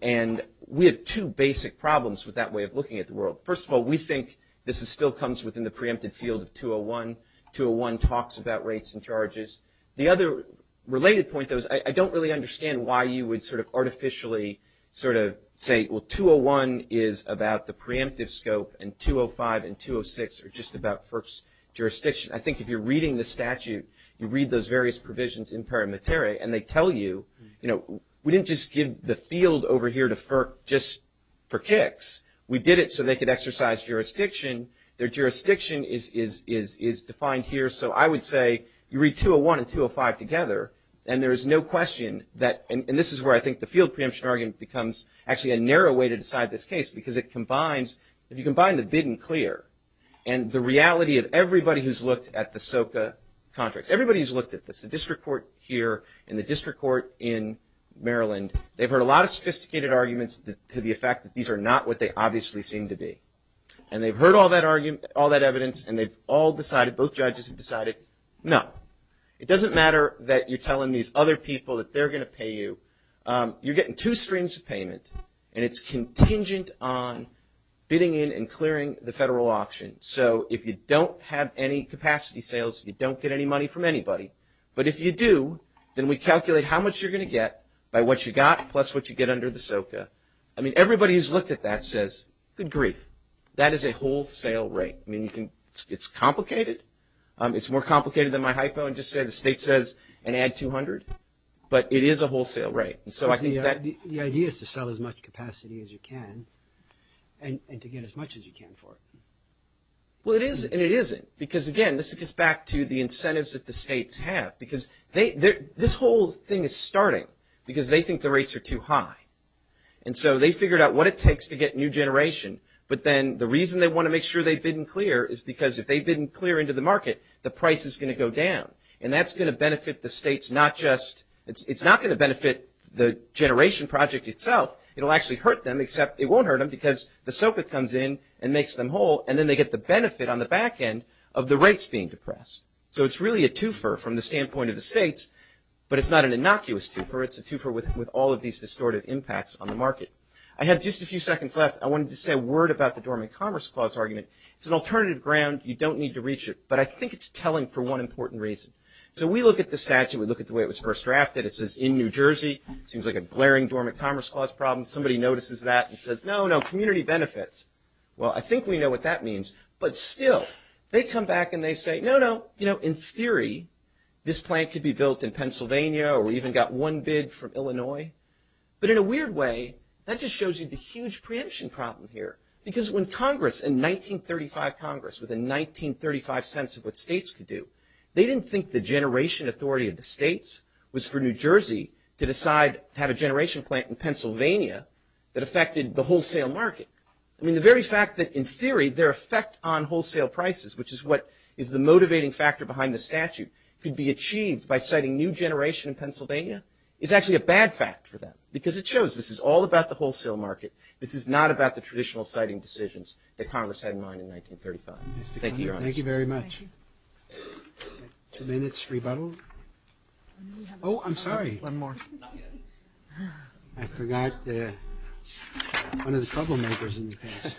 And we have two basic problems with that way of looking at the world. First of all, we think this still comes within the preempted field of 201. 201 talks about rates and charges. The other related point, though, is I don't really understand why you would sort of artificially sort of say, well, 201 is about the preemptive scope, and 205 and 206 are just about FERC's jurisdiction. I think if you're reading the statute, you read those various provisions in pari materi, and they tell you, you know, we didn't just give the field over here to FERC just for kicks. We did it so they could exercise jurisdiction. Their jurisdiction is defined here. So I would say you read 201 and 205 together, and there is no question that – and this is where I think the field preemption argument becomes actually a narrow way to decide this case, because it combines – if you combine the bid and clear and the reality of everybody who's looked at the SOCA contracts, everybody who's looked at this, the district court here and the district court in Maryland, they've heard a lot of sophisticated arguments to the effect that these are not what they obviously seem to be. And they've heard all that evidence, and they've all decided, both judges have decided, no. It doesn't matter that you're telling these other people that they're going to pay you. You're getting two streams of payment, and it's contingent on bidding in and clearing the federal auction. So if you don't have any capacity sales, you don't get any money from anybody. But if you do, then we calculate how much you're going to get by what you got plus what you get under the SOCA. I mean, everybody who's looked at that says, good grief, that is a wholesale rate. I mean, it's complicated. It's more complicated than my hypo and just say the state says, and add 200. But it is a wholesale rate. The idea is to sell as much capacity as you can and to get as much as you can for it. Well, it is, and it isn't. Because, again, this gets back to the incentives that the states have. Because this whole thing is starting because they think the rates are too high. And so they figured out what it takes to get new generation. But then the reason they want to make sure they bid and clear is because if they bid and clear into the market, the price is going to go down. And that's going to benefit the states not just – it's not going to benefit the generation project itself. It will actually hurt them, except it won't hurt them because the SOCA comes in and makes them whole. And then they get the benefit on the back end of the rates being depressed. So it's really a twofer from the standpoint of the states. But it's not an innocuous twofer. It's a twofer with all of these distortive impacts on the market. I have just a few seconds left. I wanted to say a word about the Dormant Commerce Clause argument. It's an alternative ground. You don't need to reach it. But I think it's telling for one important reason. So we look at the statute. We look at the way it was first drafted. It says in New Jersey. It seems like a glaring Dormant Commerce Clause problem. Somebody notices that and says, no, no, community benefits. Well, I think we know what that means. But still, they come back and they say, no, no, you know, in theory, this plant could be built in Pennsylvania or even got one bid from Illinois. But in a weird way, that just shows you the huge preemption problem here. Because when Congress, in 1935 Congress, with a 1935 sense of what states could do, they didn't think the generation authority of the states was for New Jersey to decide to have a generation plant in Pennsylvania that affected the wholesale market. I mean, the very fact that in theory their effect on wholesale prices, which is what is the motivating factor behind the statute, could be achieved by citing new generation in Pennsylvania is actually a bad fact for them. Because it shows this is all about the wholesale market. This is not about the traditional citing decisions that Congress had in mind in 1935. Thank you, Your Honor. Thank you very much. Two minutes rebuttal. Oh, I'm sorry. One more. I forgot one of the troublemakers in the case.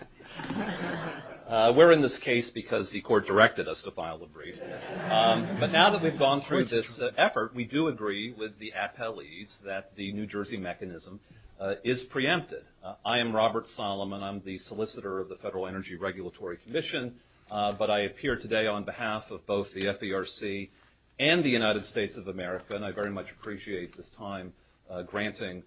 We're in this case because the court directed us to file a brief. But now that we've gone through this effort, we do agree with the appellees that the New Jersey mechanism is preempted. I am Robert Solomon. I'm the solicitor of the Federal Energy Regulatory Commission. But I appear today on behalf of both the FERC and the United States of America, and I very much appreciate this time granting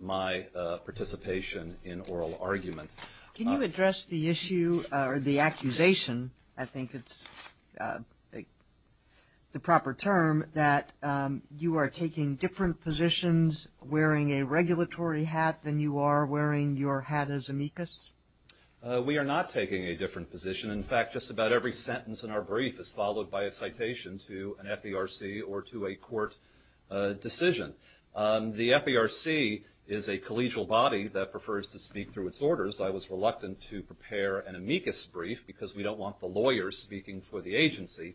my participation in oral argument. Can you address the issue or the accusation, I think it's the proper term, that you are taking different positions wearing a regulatory hat than you are wearing your hat as amicus? We are not taking a different position. In fact, just about every sentence in our brief is followed by a citation to an FERC or to a court decision. The FERC is a collegial body that prefers to speak through its orders. I was reluctant to prepare an amicus brief because we don't want the lawyers speaking for the agency.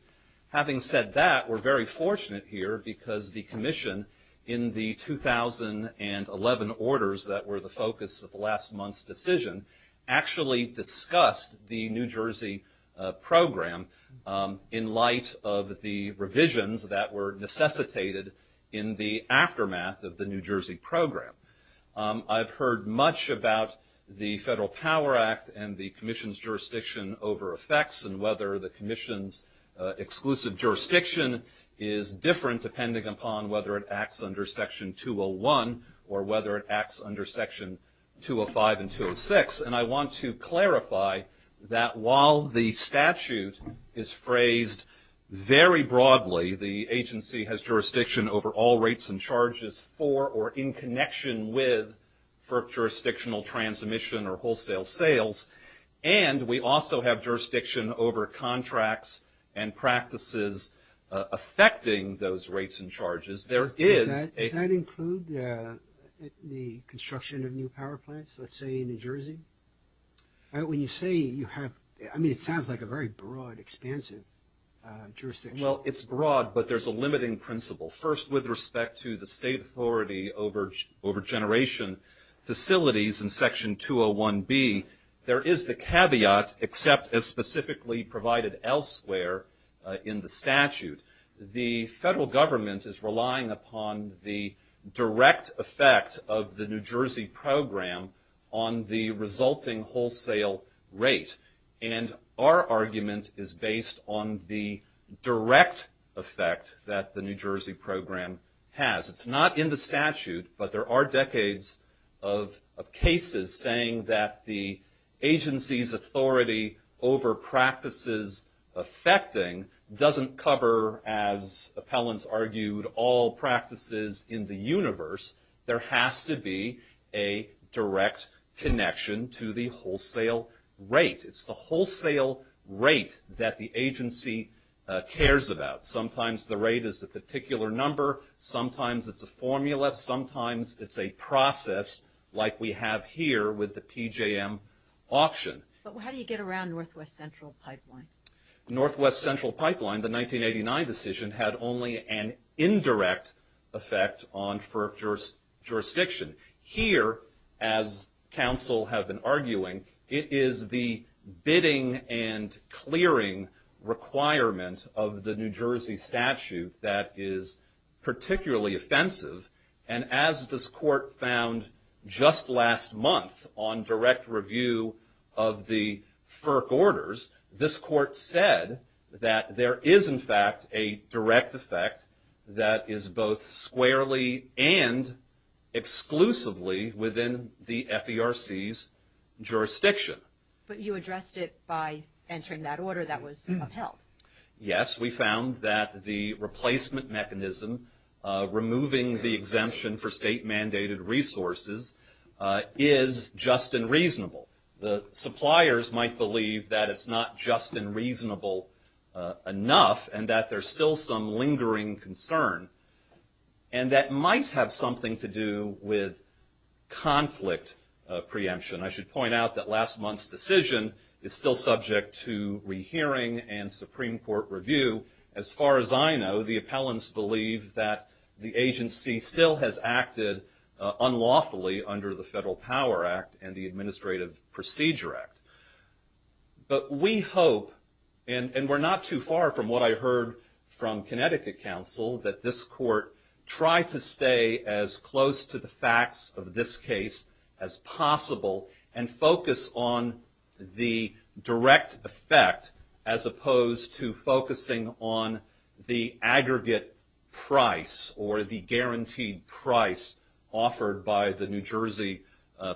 Having said that, we're very fortunate here because the commission, in the 2011 orders that were the focus of last month's decision, actually discussed the New Jersey program in light of the revisions that were necessitated in the aftermath of the New Jersey program. I've heard much about the Federal Power Act and the commission's jurisdiction over effects and whether the commission's exclusive jurisdiction is different depending upon whether it acts under Section 201 or whether it acts under Section 205 and 206, and I want to clarify that while the statute is phrased very broadly, the agency has jurisdiction over all rates and charges for or in connection with FERC jurisdictional transmission or wholesale sales, and we also have jurisdiction over contracts and practices affecting those rates and charges. There is a – Does that include the construction of new power plants, let's say, in New Jersey? When you say you have – I mean, it sounds like a very broad, expansive jurisdiction. Well, it's broad, but there's a limiting principle. First, with respect to the state authority over generation facilities in Section 201B, there is the caveat, except as specifically provided elsewhere in the statute, the federal government is relying upon the direct effect of the New Jersey program on the resulting wholesale rate, and our argument is based on the direct effect that the New Jersey program has. It's not in the statute, but there are decades of cases saying that the agency's authority over practices affecting doesn't cover, as appellants argued, all practices in the universe. There has to be a direct connection to the wholesale rate. It's the wholesale rate that the agency cares about. Sometimes the rate is a particular number. Sometimes it's a formula. Sometimes it's a process like we have here with the PJM option. But how do you get around Northwest Central Pipeline? Northwest Central Pipeline, the 1989 decision, had only an indirect effect on FERC jurisdiction. Here, as counsel have been arguing, it is the bidding and clearing requirement of the New Jersey statute that is particularly offensive, and as this court found just last month on direct review of the FERC orders, this court said that there is, in fact, a direct effect that is both squarely and exclusively within the FERC's jurisdiction. But you addressed it by entering that order that was upheld. Yes. We found that the replacement mechanism, removing the exemption for state-mandated resources, is just and reasonable. The suppliers might believe that it's not just and reasonable enough and that there's still some lingering concern, and that might have something to do with conflict preemption. I should point out that last month's decision is still subject to rehearing and Supreme Court review. As far as I know, the appellants believe that the agency still has acted unlawfully under the Federal Power Act and the Administrative Procedure Act. But we hope, and we're not too far from what I heard from Connecticut counsel, that this court try to stay as close to the facts of this case as possible and focus on the direct effect as opposed to focusing on the aggregate price or the guaranteed price offered by the New Jersey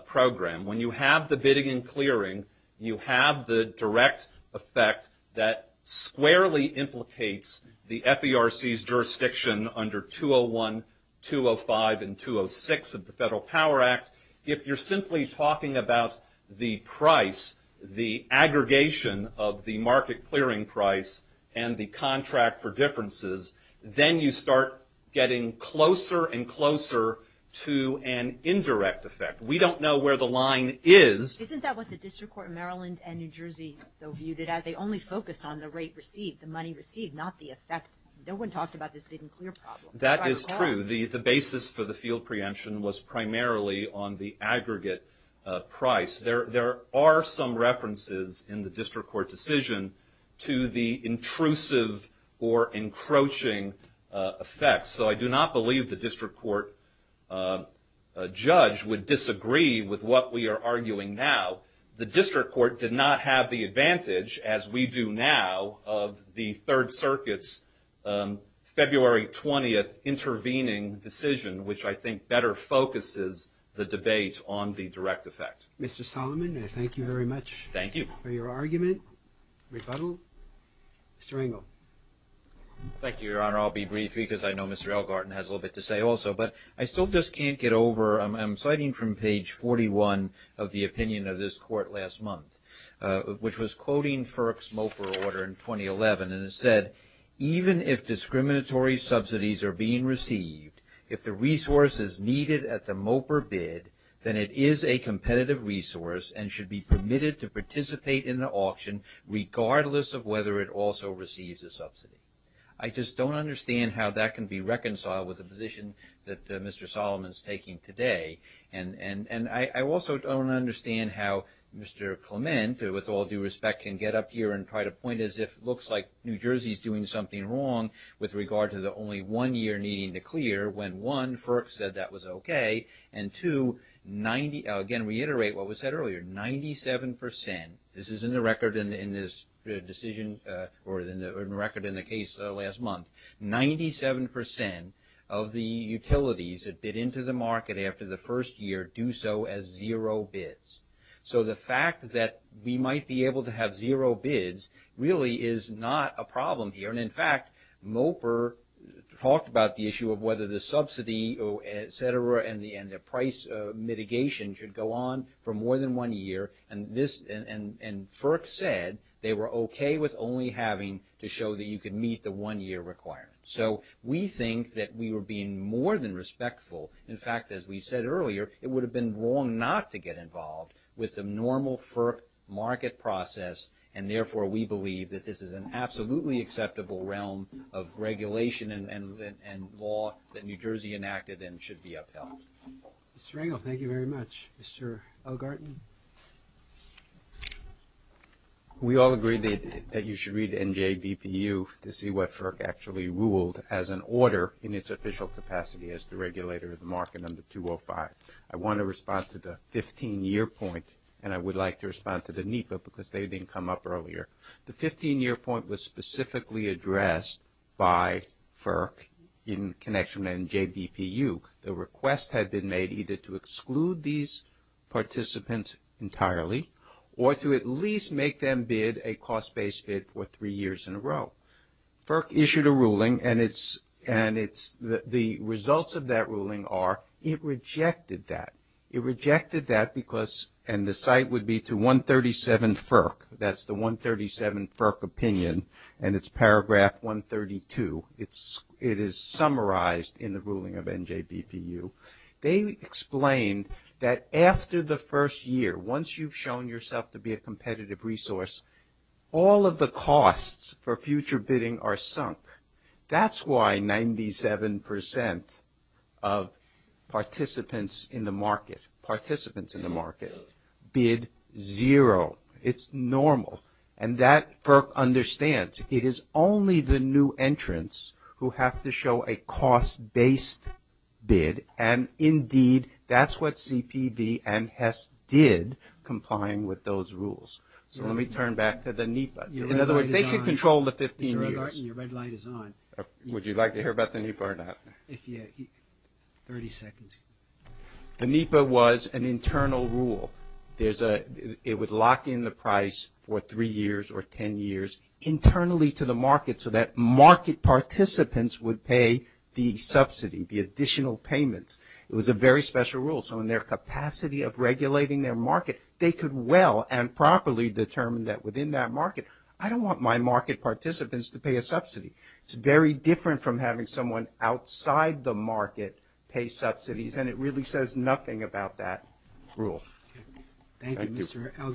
program. When you have the bidding and clearing, you have the direct effect that squarely implicates the FERC's jurisdiction under 201, 205, and 206 of the Federal Power Act. If you're simply talking about the price, the aggregation of the market clearing price and the contract for differences, then you start getting closer and closer to an indirect effect. We don't know where the line is. Isn't that what the District Court in Maryland and New Jersey, though, viewed it as? They only focused on the rate received, the money received, not the effect. No one talked about this bidding and clear problem. That is true. The basis for the field preemption was primarily on the aggregate price. There are some references in the District Court decision to the intrusive or encroaching effects. So I do not believe the District Court judge would disagree with what we are arguing now. The District Court did not have the advantage, as we do now, of the Third Circuit's February 20th intervening decision, which I think better focuses the debate on the direct effect. Mr. Solomon, I thank you very much. Thank you. For your argument, rebuttal. Mr. Engel. Thank you, Your Honor. I'll be brief because I know Mr. Elgarten has a little bit to say also. But I still just can't get over – I'm citing from page 41 of the opinion of this Court last month, which was quoting FERC's MOPR order in 2011, and it said, even if discriminatory subsidies are being received, if the resource is needed at the MOPR bid, then it is a competitive resource and should be permitted to participate in the auction, regardless of whether it also receives a subsidy. I just don't understand how that can be reconciled with the position that Mr. Solomon is taking today. And I also don't understand how Mr. Clement, with all due respect, can get up here and try to point as if it looks like New Jersey is doing something wrong with regard to the only one year needing to clear, when, one, FERC said that was okay, and, two, again, reiterate what was said earlier, 97 percent. This is in the record in this decision or in the record in the case last month. Ninety-seven percent of the utilities that bid into the market after the first year do so as zero bids. So the fact that we might be able to have zero bids really is not a problem here. And, in fact, MOPR talked about the issue of whether the subsidy, et cetera, and the price mitigation should go on for more than one year. And FERC said they were okay with only having to show that you could meet the one year requirement. So we think that we were being more than respectful. In fact, as we said earlier, it would have been wrong not to get involved with the normal FERC market process. And, therefore, we believe that this is an absolutely acceptable realm of regulation and law that New Jersey enacted and should be upheld. Mr. Rangel, thank you very much. Mr. Elgarten? We all agreed that you should read NJBPU to see what FERC actually ruled as an order in its official capacity as the regulator of the market under 205. I want to respond to the 15-year point, and I would like to respond to the NEPA because they didn't come up earlier. The 15-year point was specifically addressed by FERC in connection with NJBPU. The request had been made either to exclude these participants entirely or to at least make them bid a cost-based bid for three years in a row. FERC issued a ruling, and the results of that ruling are it rejected that. It rejected that because, and the site would be to 137 FERC. That's the 137 FERC opinion, and it's paragraph 132. It is summarized in the ruling of NJBPU. They explained that after the first year, once you've shown yourself to be a competitive resource, all of the costs for future bidding are sunk. That's why 97% of participants in the market bid zero. It's normal. And that FERC understands. It is only the new entrants who have to show a cost-based bid, and indeed, that's what CPB and HES did, complying with those rules. So let me turn back to the NEPA. In other words, they could control the 15 years. Would you like to hear about the NEPA or not? The NEPA was an internal rule. It would lock in the price for 3 years or 10 years internally to the market so that market participants would pay the subsidy, the additional payments. It was a very special rule, so in their capacity of regulating their market, they could well and properly determine that within that market, I don't want my market participants to pay a subsidy. It's very different from having someone outside the market pay subsidies, and it really says nothing about that rule. Thank you, Mr. Elgar.